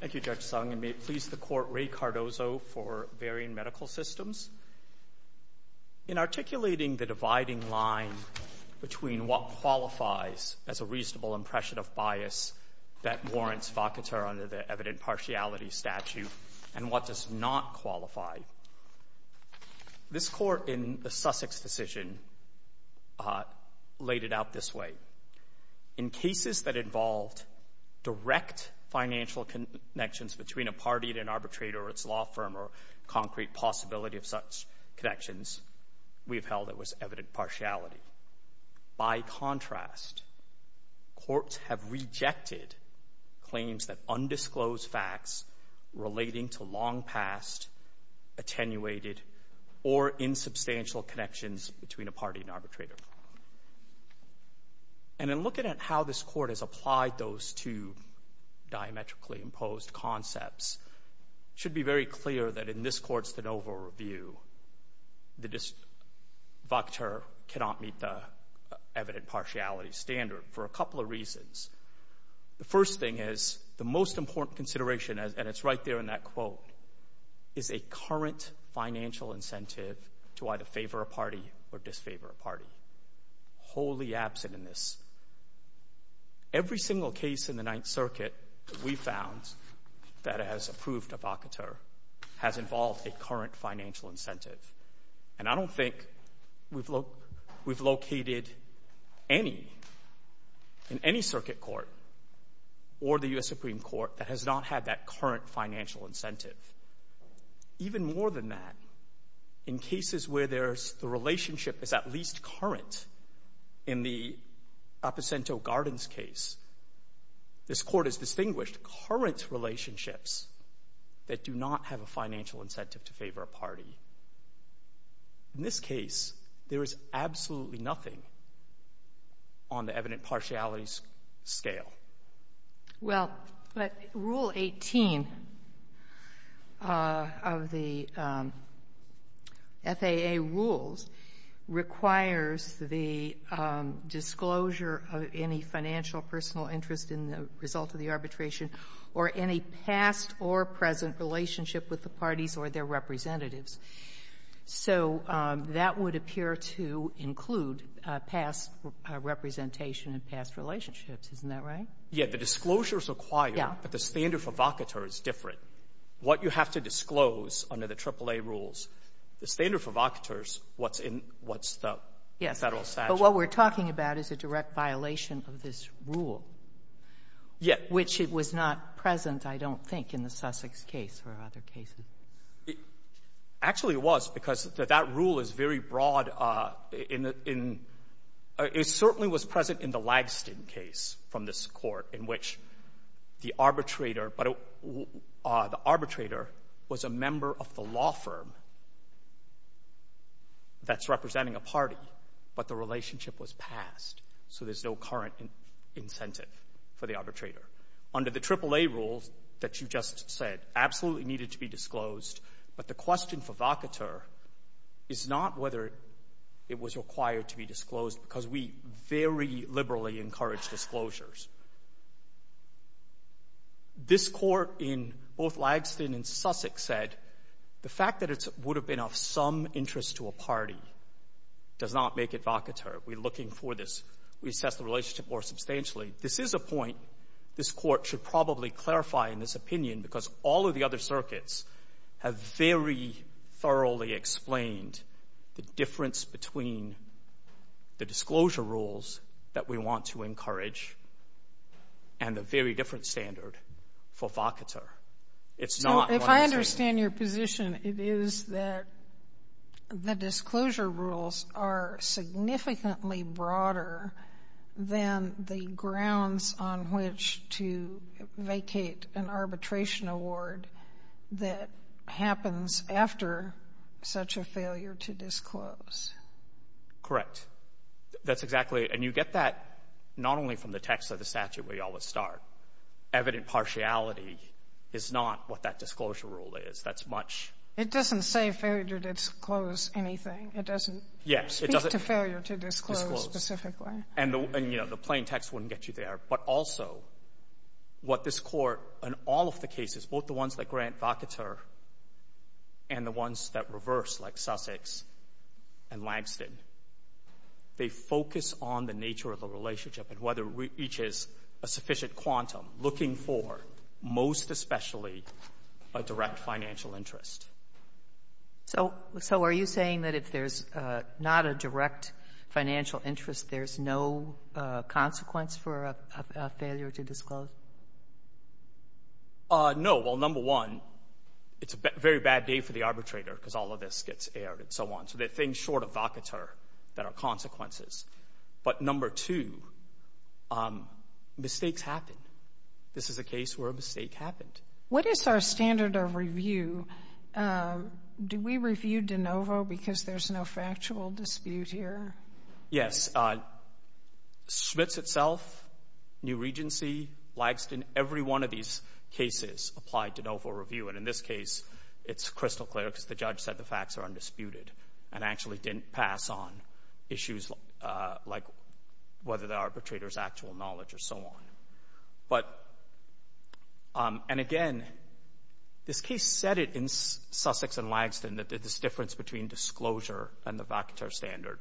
Thank you, Judge Sung, and may it please the Court, Ray Cardozo for Varian Medical Systems. In articulating the dividing line between what qualifies as a reasonable impression of bias that warrants vacata under the evident partiality statute and what does not qualify, this Court in the Sussex decision laid it out this way. In cases that involved direct financial connections between a party and an arbitrator or its law firm or concrete possibility of such connections, we have held it was evident partiality. By contrast, courts have rejected claims that undisclosed facts relating to long past attenuated or insubstantial connections between a party and arbitrator. And in looking at how this Court has applied those two diametrically imposed concepts, it should be very clear that in this Court's NOVA review, the vacata cannot meet the evident partiality standard for a couple of reasons. The first thing is the most important consideration, and it's right there in that quote, is a current financial incentive to either favor a party or disfavor a party, wholly absent in this. Every single case in the Ninth Circuit that we found that has approved a vacata has involved a current financial incentive. And I don't think we've located any in any circuit court or the U.S. Supreme Court that has not had that current financial incentive. Even more than that, in cases where there's the relationship is at least current in the Aposento-Gardens case, this Court has distinguished current relationships that do not have a financial incentive to favor a party. In this case, there is absolutely nothing on the evident partiality scale. Well, Rule 18 of the FAA rules requires the disclosure of any financial personal interest in the result of the arbitration or any past or present relationship with the parties or their representatives. So that would appear to include past representation and past relationships. Isn't that right? Yeah. The disclosure is required, but the standard for vacata is different. What you have to disclose under the AAA rules, the standard for vacata is what's in what's the Federal statute. Yes. But what we're talking about is a direct violation of this rule. Yeah. Which was not present, I don't think, in the Sussex case or other cases. Actually, it was, because that rule is very broad in the — it certainly was present in the Lagston case from this Court, in which the arbitrator was a member of the law firm that's representing a party, but the relationship was past. So there's no current incentive for the arbitrator. Under the AAA rules that you just said, absolutely needed to be disclosed. But the question for vacata is not whether it was required to be disclosed, because we very liberally encourage disclosures. This Court in both Lagston and Sussex said the fact that it would have been of some interest to a party does not make it vacata. We're looking for this. We assess the relationship more substantially. This is a point this Court should probably clarify in this opinion, because all of the disclosure rules that we want to encourage and the very different standard for vacata, it's not what I'm saying. No. If I understand your position, it is that the disclosure rules are significantly broader than the grounds on which to vacate an arbitration award that happens after such a failure to disclose. Correct. That's exactly — and you get that not only from the text of the statute, where you always start. Evident partiality is not what that disclosure rule is. That's much — It doesn't say failure to disclose anything. It doesn't speak to failure to disclose specifically. Yes. And, you know, the plain text wouldn't get you there. But also, what this Court, in all of the cases, both the ones that grant vacata and the ones that reverse, like Sussex and Langston, they focus on the nature of the relationship and whether it reaches a sufficient quantum, looking for, most especially, a direct financial interest. So are you saying that if there's not a direct financial interest, there's no consequence for a failure to disclose? No. Well, number one, it's a very bad day for the arbitrator, because all of this gets aired, and so on. So they're things short of vacata that are consequences. But number two, mistakes happen. This is a case where a mistake happened. What is our standard of review? Do we review de novo because there's no factual dispute here? Yes. Schmitz itself, New Regency, Langston, every one of these cases applied de novo review. And in this case, it's crystal clear, because the judge said the facts are undisputed, and actually didn't pass on issues like whether the arbitrator's actual knowledge or so on. But, and again, this case said it in Sussex and Langston, that there's a difference between disclosure and the vacata standard,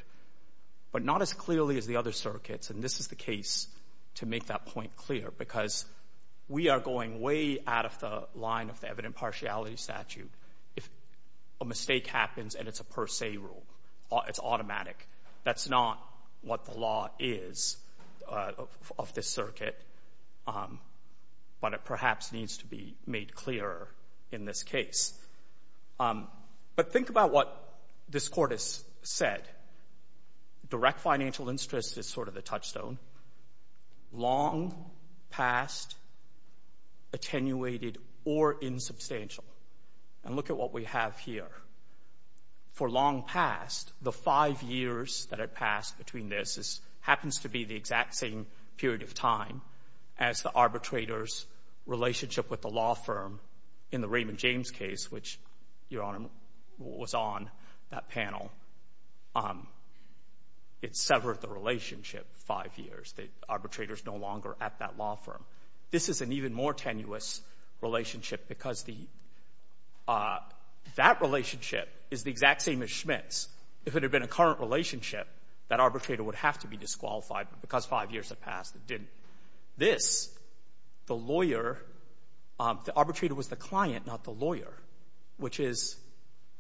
but not as clearly as the other circuits. And this is the case to make that point clear, because we are going way out of the line of the evident partiality statute. If a mistake happens and it's a per se rule, it's automatic. That's not what the law is of this circuit. But it perhaps needs to be made clearer in this case. But think about what this court has said. Direct financial interest is sort of the touchstone. Long past, attenuated or insubstantial. And look at what we have here. For long past, the five years that had passed between this, this happens to be the exact same period of time as the arbitrator's relationship with the law firm in the Raymond James case, which, Your Honor, was on that panel. It severed the relationship five years. The arbitrator's no longer at that law firm. This is an even more tenuous relationship, because the, that relationship is the exact same as Schmitt's. If it had been a current relationship, that arbitrator would have to be disqualified, but because five years had passed, it didn't. This, the lawyer, the arbitrator was the client, not the lawyer, which is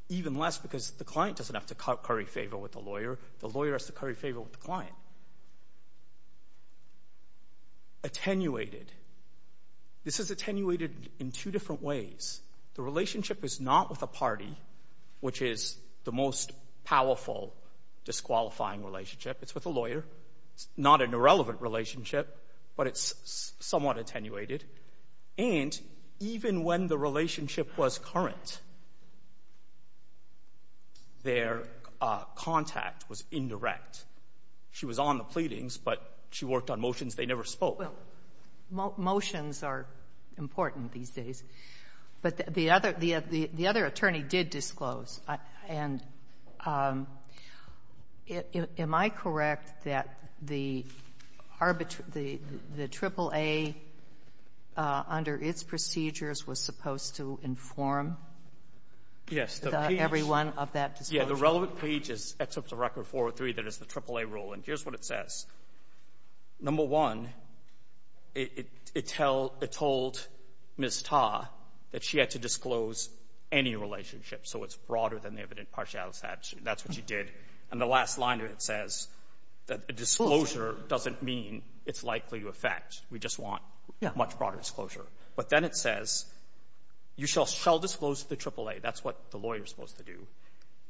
even less, because the client doesn't have to curry favor with the lawyer. The lawyer has to curry favor with the client. Attenuated. This is attenuated in two different ways. The relationship is not with a party, which is the most powerful disqualifying relationship. It's with a lawyer. It's not an irrelevant relationship, but it's somewhat attenuated. And even when the relationship was current, their contact was indirect. She was on the pleadings, but she worked on motions they never spoke. Well, motions are important these days, but the other, the other attorney did disclose, and am I correct that the arbitrage the triple-A under its procedures was supposed to inform everyone of that disclosure? Yes. The relevant page is, except for Record 403, that is the triple-A rule. And here's what it says. Number one, it tells, it told Ms. Ta that she had to disclose any relationship. So it's broader than the evident partiality statute. That's what she did. And the last line of it says that a disclosure doesn't mean it's likely to affect. We just want much broader disclosure. But then it says, you shall disclose to the triple-A. That's what the lawyer is supposed to do.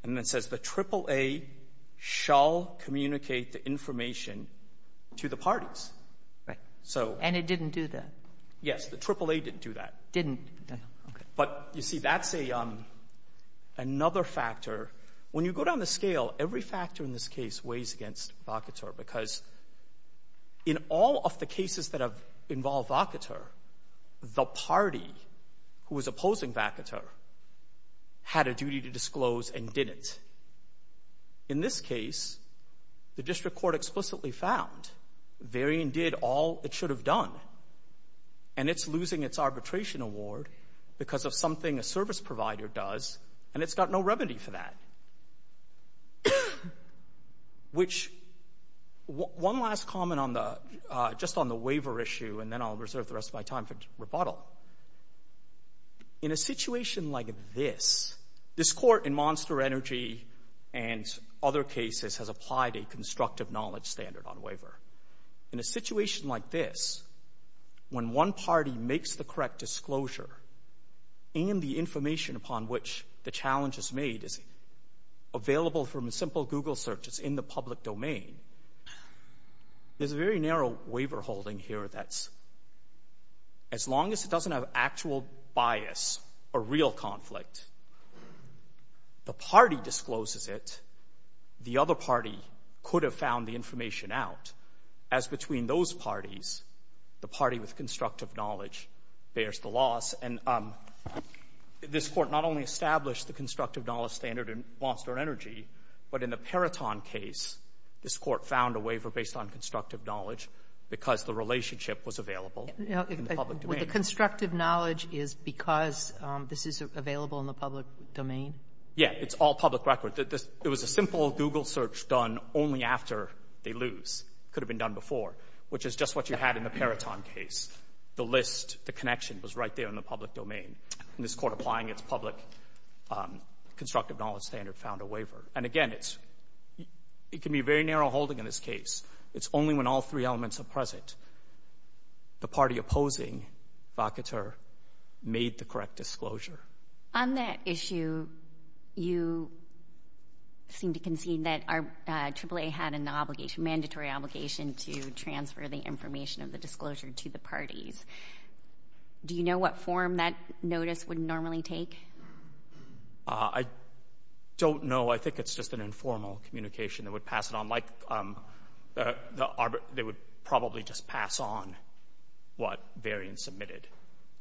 And then it says, the triple-A shall communicate the information to the parties. Right. So — And it didn't do that. Yes. The triple-A didn't do that. Didn't. Okay. But, you see, that's a — another factor. When you go down the scale, every factor in this case weighs against Vacater. Because in all of the cases that have involved Vacater, the party who was opposing Vacater had a duty to disclose and didn't. In this case, the district court explicitly found Varian did all it should have done. And it's losing its arbitration award because of something a service provider does. And it's got no remedy for that. Which — one last comment on the — just on the waiver issue, and then I'll reserve the rest of my time for rebuttal. In a situation like this, this Court in Monster Energy and other cases has applied a constructive knowledge standard on waiver. In a situation like this, when one party makes the correct disclosure and the information upon which the challenge is made is available from a simple Google search that's in the public domain, there's a very narrow waiver holding here that's — as long as it doesn't have actual bias or real conflict, the party discloses it. The other party could have found the information out. As between those parties, the party with constructive knowledge bears the loss. And this Court not only established the constructive knowledge standard in Monster Energy, but in the Peraton case, this Court found a waiver based on constructive knowledge because the relationship was available in the public domain. Kagan. Well, the constructive knowledge is because this is available in the public domain? Yeah. It's all public record. It was a simple Google search done only after they lose. It could have been done before, which is just what you had in the Peraton case. The list, the connection was right there in the public domain. And this Court, applying its public constructive knowledge standard, found a waiver. And again, it's — it can be a very narrow holding in this case. It's only when all three elements are present. The party opposing, Vacater, made the correct disclosure. On that issue, you seem to concede that AAA had an obligation — mandatory obligation to transfer the information of the disclosure to the parties. Do you know what form that notice would normally take? I don't know. I think it's just an informal communication. They would pass it on like — they would probably just pass on what variance submitted.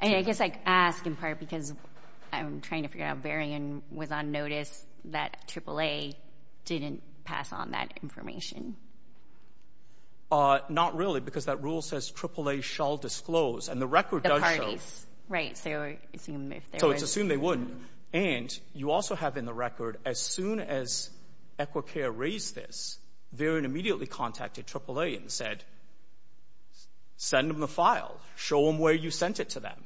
I guess I ask in part because I'm trying to figure out if Varian was on notice that AAA didn't pass on that information. Not really, because that rule says AAA shall disclose. And the record does show — The parties. Right. So it's assumed if there was — So it's assumed they wouldn't. And you also have in the record, as soon as Equicare raised this, Varian immediately contacted AAA and said, send them the file, show them where you sent it to them.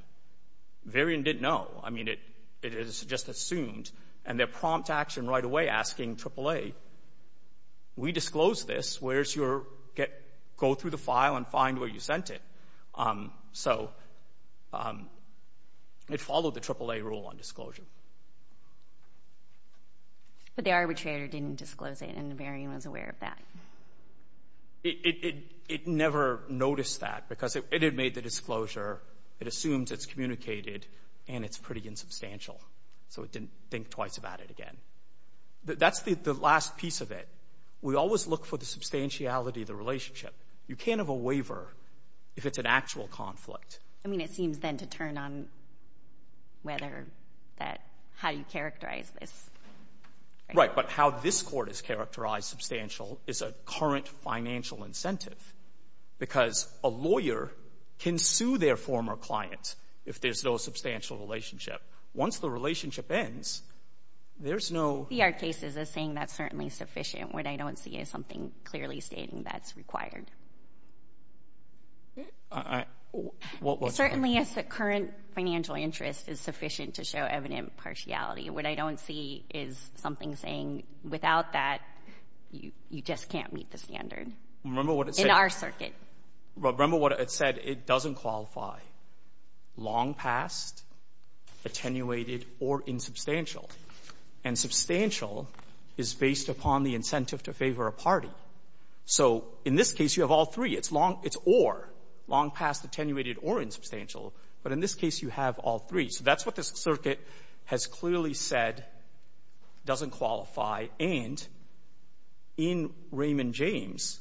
Varian didn't know. I mean, it is just assumed. And their prompt action right away asking AAA, we disclosed this, where's your — go through the file and find where you sent it. So it followed the AAA rule on disclosure. But the arbitrator didn't disclose it, and Varian was aware of that. It never noticed that, because it had made the disclosure, it assumes it's communicated, and it's pretty insubstantial. So it didn't think twice about it again. That's the last piece of it. We always look for the substantiality of the relationship. You can't have a waiver if it's an actual conflict. I mean, it seems then to turn on whether that — how you characterize this. Right. But how this court is characterized substantial is a current financial incentive, because a lawyer can sue their former client if there's no substantial relationship. Once the relationship ends, there's no — VR cases are saying that's certainly sufficient. What I don't see is something clearly stating that's required. I — what's — Certainly, it's a current financial interest is sufficient to show evident partiality. What I don't see is something saying without that, you just can't meet the standard. Remember what it said — In our circuit. Remember what it said. It doesn't qualify long past, attenuated, or insubstantial. And substantial is based upon the incentive to favor a party. So in this case, you have all three. It's long — it's or. Long past, attenuated, or insubstantial. But in this case, you have all three. So that's what this circuit has clearly said doesn't qualify. And in Raymond James,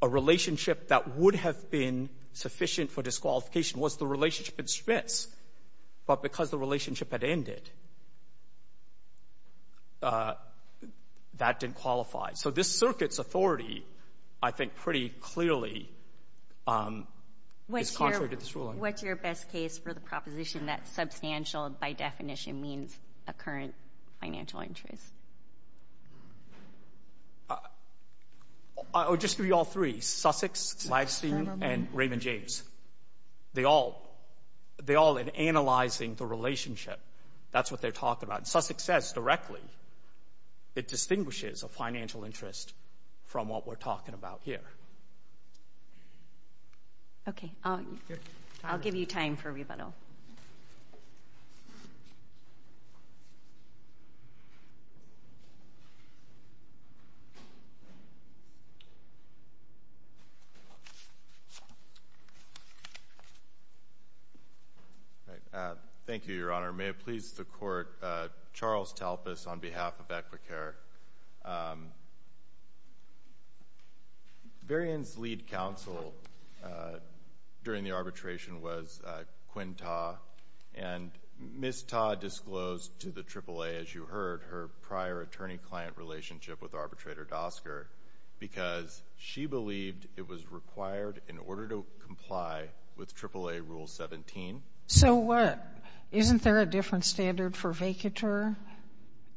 a relationship that would have been sufficient for disqualification was the relationship at Smits. But because the relationship had ended, that didn't qualify. So this circuit's authority, I think, pretty clearly is contrary to this ruling. What's your best case for the proposition that substantial, by definition, means a current financial interest? I would just give you all three. Sussex, Lagstein, and Raymond James. They all — they all, in analyzing the relationship, that's what they're talking about. Sussex says directly it distinguishes a financial interest from what we're talking about here. Okay. I'll give you time for rebuttal. Thank you, Your Honor. May it please the Court, Charles Talpas on behalf of Equicare. Varian's lead counsel during the arbitration was Quinn Ta. And Ms. Ta disclosed to the AAA, as you heard, her prior attorney-client relationship with arbitrator Dosker because she believed it was required in order to comply with AAA Rule 17. So what? Isn't there a different standard for vacatur?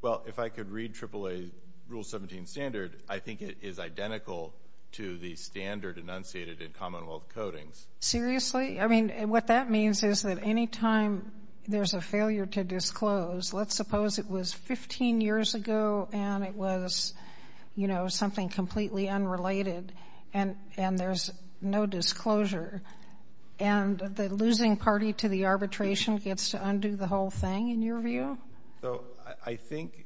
Well, if I could read AAA Rule 17 standard, I think it is identical to the standard enunciated in Commonwealth codings. Seriously? I mean, what that means is that any time there's a failure to disclose, let's suppose it was 15 years ago and it was, you know, something completely unrelated and there's no disclosure. And the losing party to the arbitration gets to undo the whole thing, in your view? So I think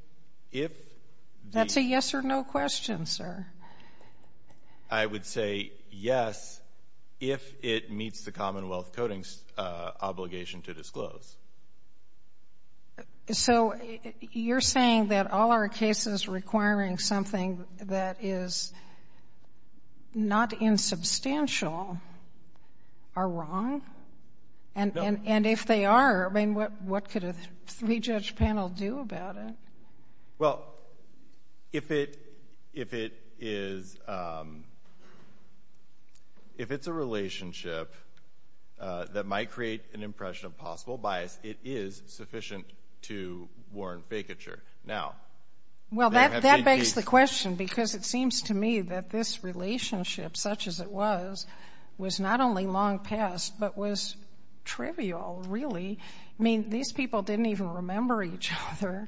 if the That's a yes or no question, sir. I would say yes if it meets the Commonwealth codings obligation to disclose. So you're saying that all our cases requiring something that is not insubstantial are wrong? And if they are, I mean, what could a three-judge panel do about it? Well, if it is, if it's a relationship that might create an impression of possible bias, it is sufficient to warrant vacatur. Now, Well, that begs the question because it seems to me that this relationship, such as it was, was not only long past, but was trivial, really. I mean, these people didn't even remember each other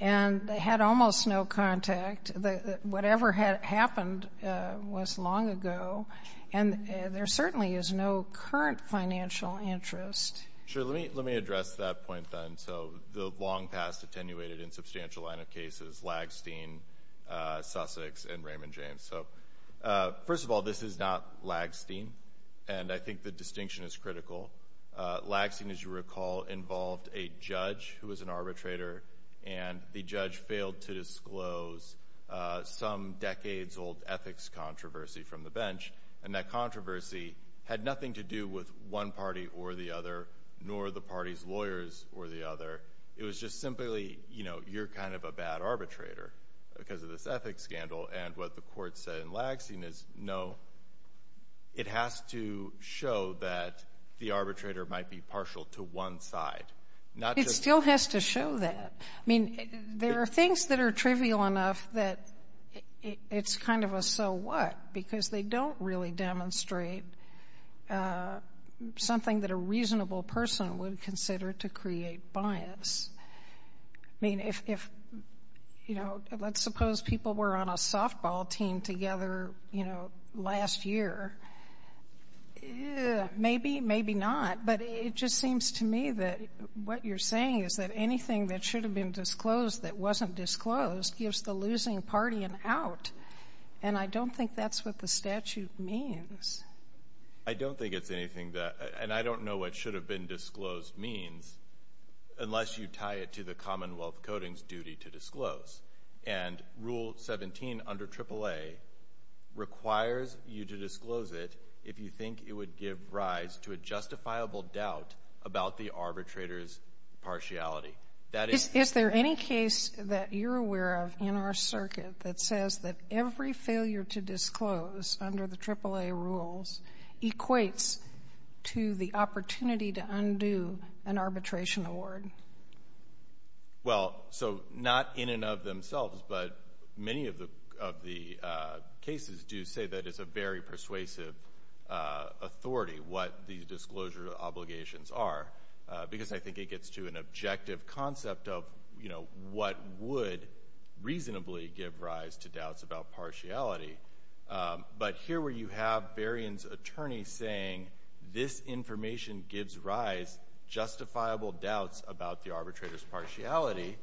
and they had almost no contact. Whatever had happened was long ago, and there certainly is no current financial interest. Sure, let me address that point then. So the long past attenuated insubstantial line of cases, Lagstein, Sussex, and Raymond James. So first of all, this is not Lagstein, and I think the distinction is critical. Lagstein, as you recall, involved a judge who was an arbitrator, and the judge failed to disclose some decades-old ethics controversy from the bench. And that controversy had nothing to do with one party or the other, nor the party's lawyers or the other. It was just simply, you know, you're kind of a bad arbitrator because of this ethics scandal. And what the court said in Lagstein is, no, it has to show that the arbitrator might be partial to one side, not just... It still has to show that. I mean, there are things that are trivial enough that it's kind of a so what, because they don't really demonstrate something that a reasonable person would consider to create bias. I mean, if, you know, let's suppose people were on a softball team together, you know, last year. Maybe, maybe not, but it just seems to me that what you're saying is that anything that should have been disclosed that wasn't disclosed gives the losing party an out. And I don't think that's what the statute means. I don't think it's anything that — and I don't know what should have been disclosed means unless you tie it to the Commonwealth Coding's duty to disclose. And Rule 17 under AAA requires you to disclose it if you think it would give rise to a justifiable doubt about the arbitrator's partiality. Is there any case that you're aware of in our circuit that says that every failure to disclose under the AAA rules equates to the opportunity to undo an arbitration award? Well, so not in and of themselves, but many of the cases do say that it's a very persuasive authority what the disclosure obligations are, because I think it gets to an objective concept of, you know, what would reasonably give rise to doubts about partiality. But here where you have Berrien's attorney saying this information gives rise justifiable doubts about the arbitrator's partiality,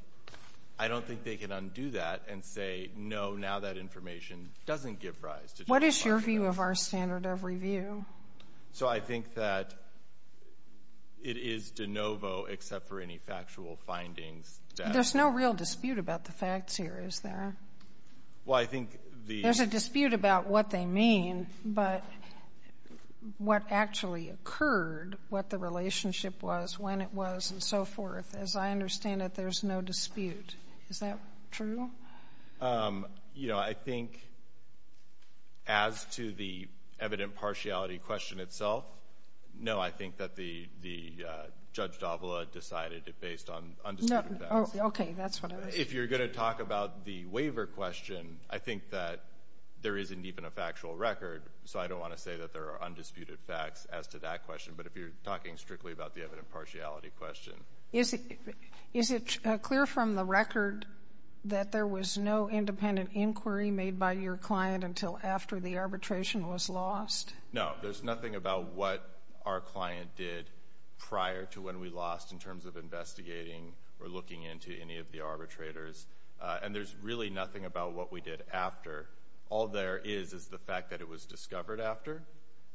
I don't think they can undo that and say, no, now that information doesn't give rise to justifiable doubts. What is your view of our standard of review? So I think that it is de novo except for any factual findings that — There's no real dispute about the facts here, is there? Well, I think the — There's a dispute about what they mean, but what actually occurred, what the relationship was, when it was, and so forth, as I understand it, there's no dispute. Is that true? You know, I think as to the evident partiality question itself, no, I think that the — Judge D'Avola decided it based on undisputed facts. Okay, that's what I was — If you're going to talk about the waiver question, I think that there isn't even a factual record, so I don't want to say that there are undisputed facts as to that question. But if you're talking strictly about the evident partiality question — Is it clear from the record that there was no independent inquiry made by your client until after the arbitration was lost? No. There's nothing about what our client did prior to when we lost in terms of investigating or looking into any of the arbitrators, and there's really nothing about what we did after. All there is is the fact that it was discovered after,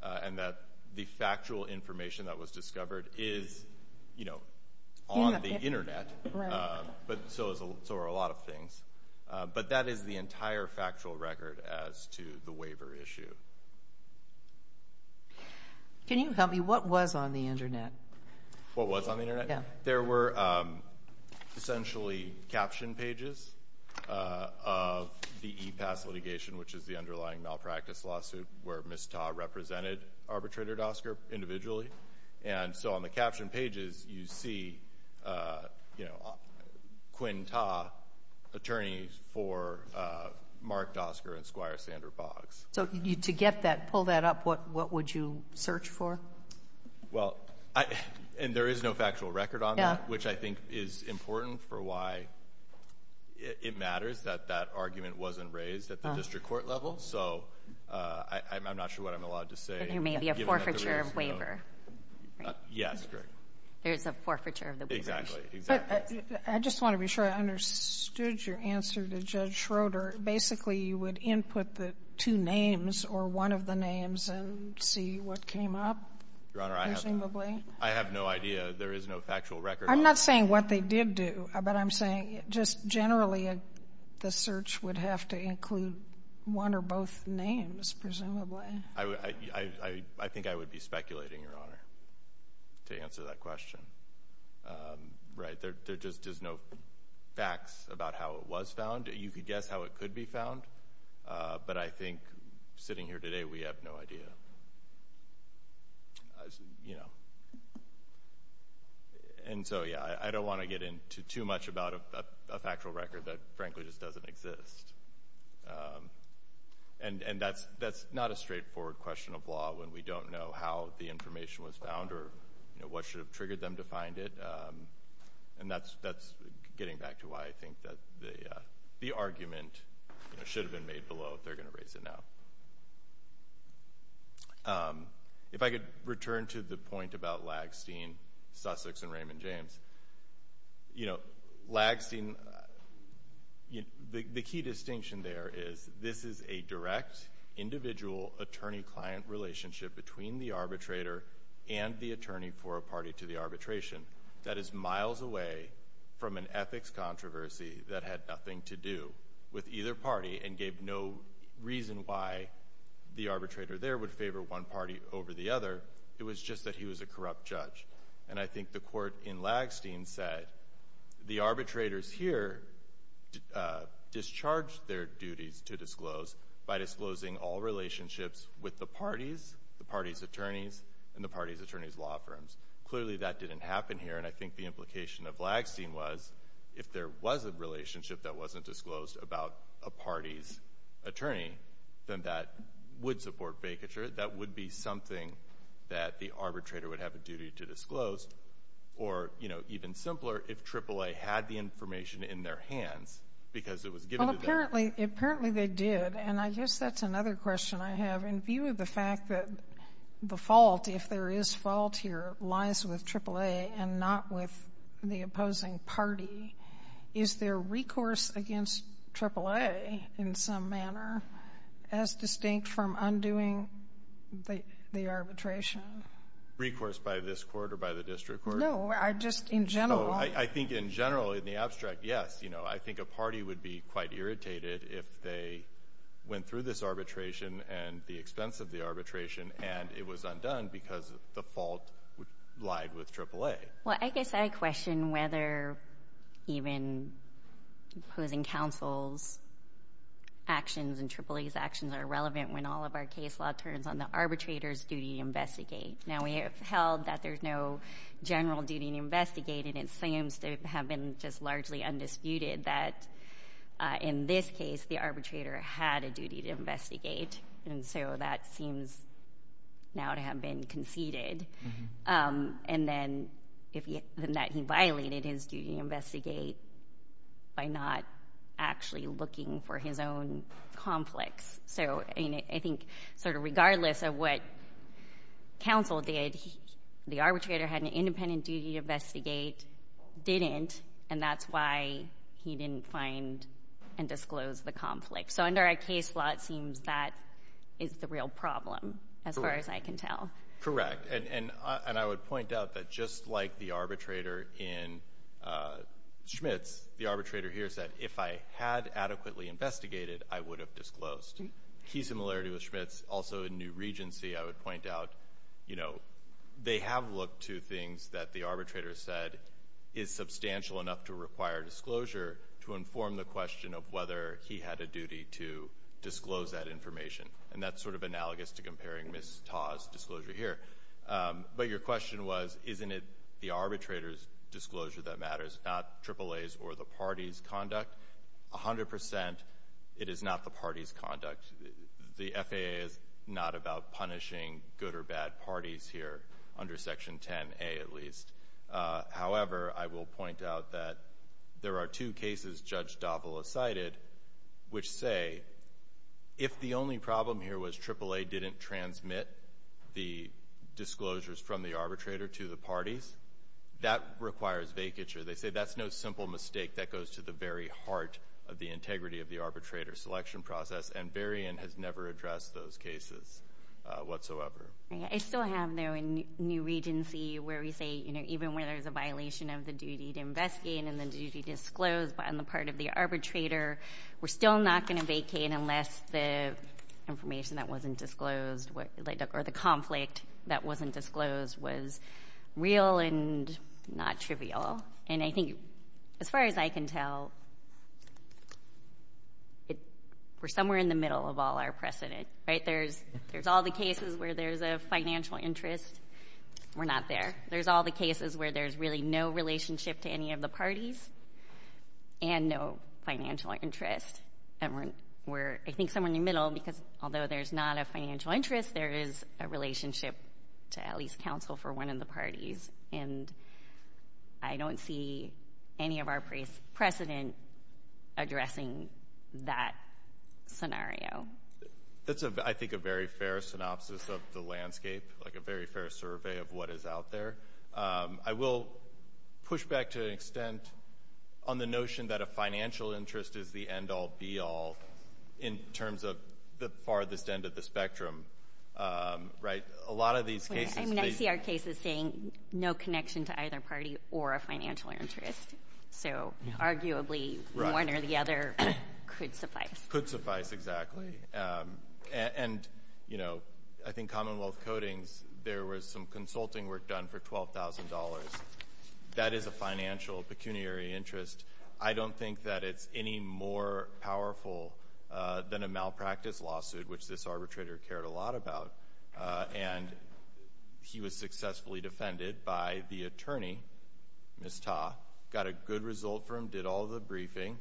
and that the factual information that was discovered is, you know, on the Internet, but so are a lot of things. But that is the entire factual record as to the waiver issue. Can you tell me what was on the Internet? What was on the Internet? Yeah. There were essentially captioned pages of the e-pass litigation, which is the underlying malpractice lawsuit where Ms. Ta represented arbitrator Dosker individually. And so on the captioned pages, you see, you know, Quinn Ta, attorney for Mark Dosker and Squire Sander Boggs. So to get that, pull that up, what would you search for? Well, and there is no factual record on that, which I think is important for why it matters that that argument wasn't raised at the district court level. So I'm not sure what I'm allowed to say. There may be a forfeiture of waiver. Yes, correct. There's a forfeiture of the waiver. Exactly, exactly. I just want to be sure I understood your answer to Judge Schroeder. Basically, you would input the two names or one of the names and see what came up, presumably. Your Honor, I have no idea. There is no factual record. I'm not saying what they did do, but I'm saying just generally the search would have to include one or both names, presumably. I think I would be speculating, Your Honor, to answer that question. Right, there just is no facts about how it was found. You could guess how it could be found, but I think sitting here today, we have no idea, you know. And so, yeah, I don't want to get into too much about a factual record that frankly just doesn't exist. And that's not a straightforward question of law when we don't know how the information was found or what should have triggered them to find it. And that's getting back to why I think that the argument should have been made below if they're going to raise it now. If I could return to the point about Lagsteen, Sussex, and Raymond James. You know, Lagsteen, the key distinction there is this is a direct individual attorney-client relationship between the arbitrator and the attorney for a party to the arbitration. That is miles away from an ethics controversy that had nothing to do with either party and gave no reason why the arbitrator there would favor one party over the other. It was just that he was a corrupt judge. And I think the Court in Lagsteen said the arbitrators here discharged their duties to disclose by disclosing all relationships with the parties, the parties' attorneys, and the parties' attorneys' law firms. Clearly, that didn't happen here. And I think the implication of Lagsteen was if there was a relationship that wasn't disclosed about a party's attorney, then that would support vacature. That would be something that the arbitrator would have a duty to disclose. Or, you know, even simpler, if AAA had the information in their hands because it was given to them. Well, apparently they did. And I guess that's another question I have. In view of the fact that the fault, if there is fault here, lies with AAA and not with the opposing party, is there recourse against AAA in some manner as distinct from undoing the arbitration? Recourse by this Court or by the district court? No, just in general. I think in general, in the abstract, yes. You know, I think a party would be quite irritated if they went through this arbitration and the expense of the arbitration and it was undone because the fault lied with AAA. Well, I guess I question whether even opposing counsel's actions and AAA's actions are relevant when all of our case law turns on the arbitrator's duty to investigate. Now, we have held that there's no general duty to investigate, and it seems to have been just largely undisputed that in this case, the arbitrator had a duty to investigate. And so that seems now to have been conceded. And then that he violated his duty to investigate by not actually looking for his own conflicts. So, I mean, I think sort of regardless of what counsel did, the arbitrator had an independent duty to investigate, didn't, and that's why he didn't find and disclose the conflict. So under our case law, it seems that is the real problem, as far as I can tell. Correct. And I would point out that just like the arbitrator in Schmitz, the arbitrator here said, if I had adequately investigated, I would have disclosed. Key similarity with Schmitz, also in New Regency, I would point out, you know, they have looked to things that the arbitrator said is substantial enough to require disclosure to inform the question of whether he had a duty to disclose that information. And that's sort of analogous to comparing Ms. Taw's disclosure here. But your question was, isn't it the arbitrator's disclosure that matters, not AAA's or the party's conduct? A hundred percent, it is not the party's conduct. The FAA is not about punishing good or bad parties here, under Section 10A at least. However, I will point out that there are two cases Judge Davila cited which say, if the only problem here was AAA didn't transmit the disclosures from the arbitrator to the parties, that requires vacature. They say that's no simple mistake that goes to the very heart of the integrity of the arbitrator selection process, and Varian has never addressed those cases whatsoever. I still have, though, in New Regency where we say, you know, even where there's a violation of the duty to investigate and the duty to disclose on the part of the arbitrator, we're still not going to vacate unless the information that wasn't disclosed or the conflict that wasn't disclosed was real and not trivial. And I think, as far as I can tell, we're somewhere in the middle of all our precedent, right? There's all the cases where there's a financial interest. We're not there. There's all the cases where there's really no relationship to any of the parties and no financial interest. And we're, I think, somewhere in the middle because, although there's not a financial interest, there is a relationship to at least counsel for one of the parties. And I don't see any of our precedent addressing that scenario. That's, I think, a very fair synopsis of the landscape, like a very fair survey of what is out there. I will push back to an extent on the notion that a financial interest is the end-all, be-all in terms of the farthest end of the spectrum. Right? A lot of these cases— I mean, I see our cases saying no connection to either party or a financial interest. So, arguably, one or the other could suffice. Could suffice, exactly. And, you know, I think Commonwealth Codings, there was some consulting work done for $12,000. That is a financial pecuniary interest. I don't think that it's any more powerful than a malpractice lawsuit, which this arbitrator cared a lot about. And he was successfully defended by the attorney, Ms. Ta. Got a good result from him. Did all the briefing.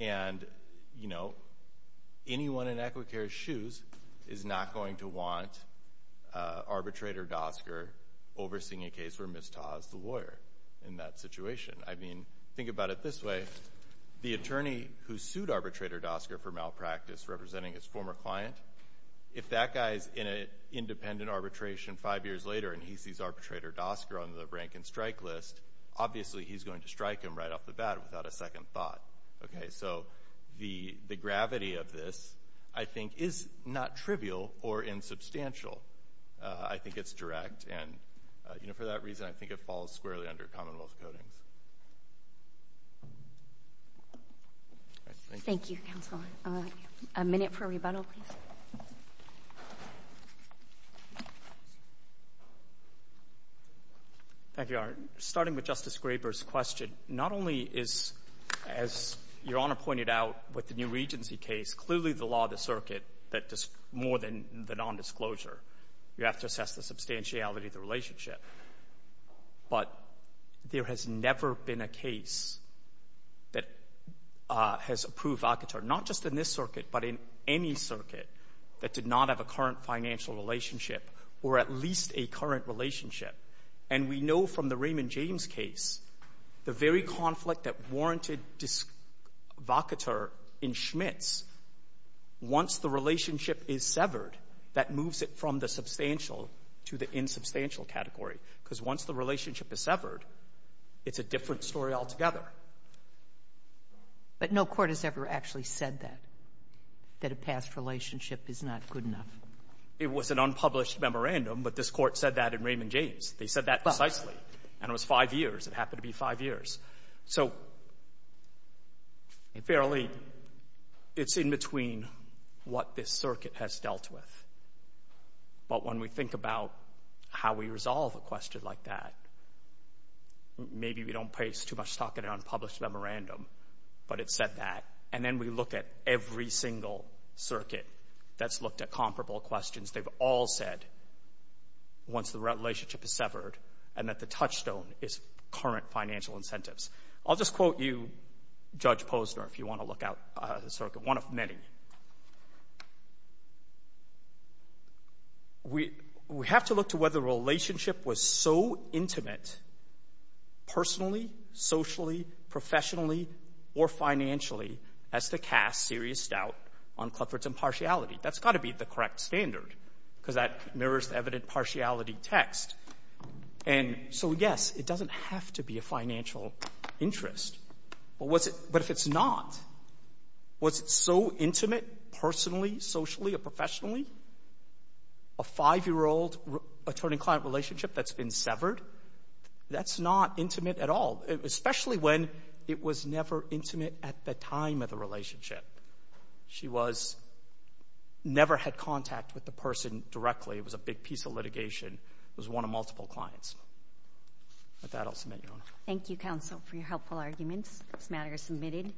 And, you know, anyone in Equicare's shoes is not going to want Arbitrator Dosker overseeing a case where Ms. Ta is the lawyer in that situation. I mean, think about it this way. The attorney who sued Arbitrator Dosker for malpractice representing his former client, if that guy's in an independent arbitration five years later and he sees Arbitrator Dosker on the rank and strike list, obviously, he's going to strike him right off the bat without a second thought. So the gravity of this, I think, is not trivial or insubstantial. I think it's direct. And, you know, for that reason, I think it falls squarely under Commonwealth Codings. Thank you, counsel. A minute for rebuttal, please. Thank you, Your Honor. Starting with Justice Graber's question, not only is, as Your Honor pointed out with the new Regency case, clearly the law of the circuit that more than the nondisclosure, you have to assess the substantiality of the relationship. But there has never been a case that has approved Alcatraz, not just in this circuit, but in any circuit that did not have a current financial relationship or at least a current relationship. And we know from the Raymond James case, the very conflict that warranted disvocateur in Schmitz, once the relationship is severed, that moves it from the substantial to the insubstantial category, because once the relationship is severed, it's a different story altogether. But no court has ever actually said that, that a past relationship is not good enough. It was an unpublished memorandum, but this court said that in Raymond James. They said that precisely. And it was five years. It happened to be five years. So, fairly, it's in between what this circuit has dealt with. But when we think about how we resolve a question like that, maybe we don't place too much stock in an unpublished memorandum, but it said that. And then we look at every single circuit that's looked at comparable questions. They've all said, once the relationship is severed, and that the touchstone is current financial incentives. I'll just quote you, Judge Posner, if you want to look at the circuit, one of many. We have to look to whether a relationship was so intimate, personally, socially, professionally, or financially, as to cast serious doubt on Clifford's impartiality. That's got to be the correct standard, because that mirrors the evident partiality text. And so, yes, it doesn't have to be a financial interest. But was it — but if it's not, was it so intimate personally, socially, or professionally? A five-year-old attorney-client relationship that's been severed, that's not intimate at all. Especially when it was never intimate at the time of the relationship. She was — never had contact with the person directly. It was a big piece of litigation. It was one of multiple clients. With that, I'll submit, Your Honor. Thank you, counsel, for your helpful arguments. This matter is submitted.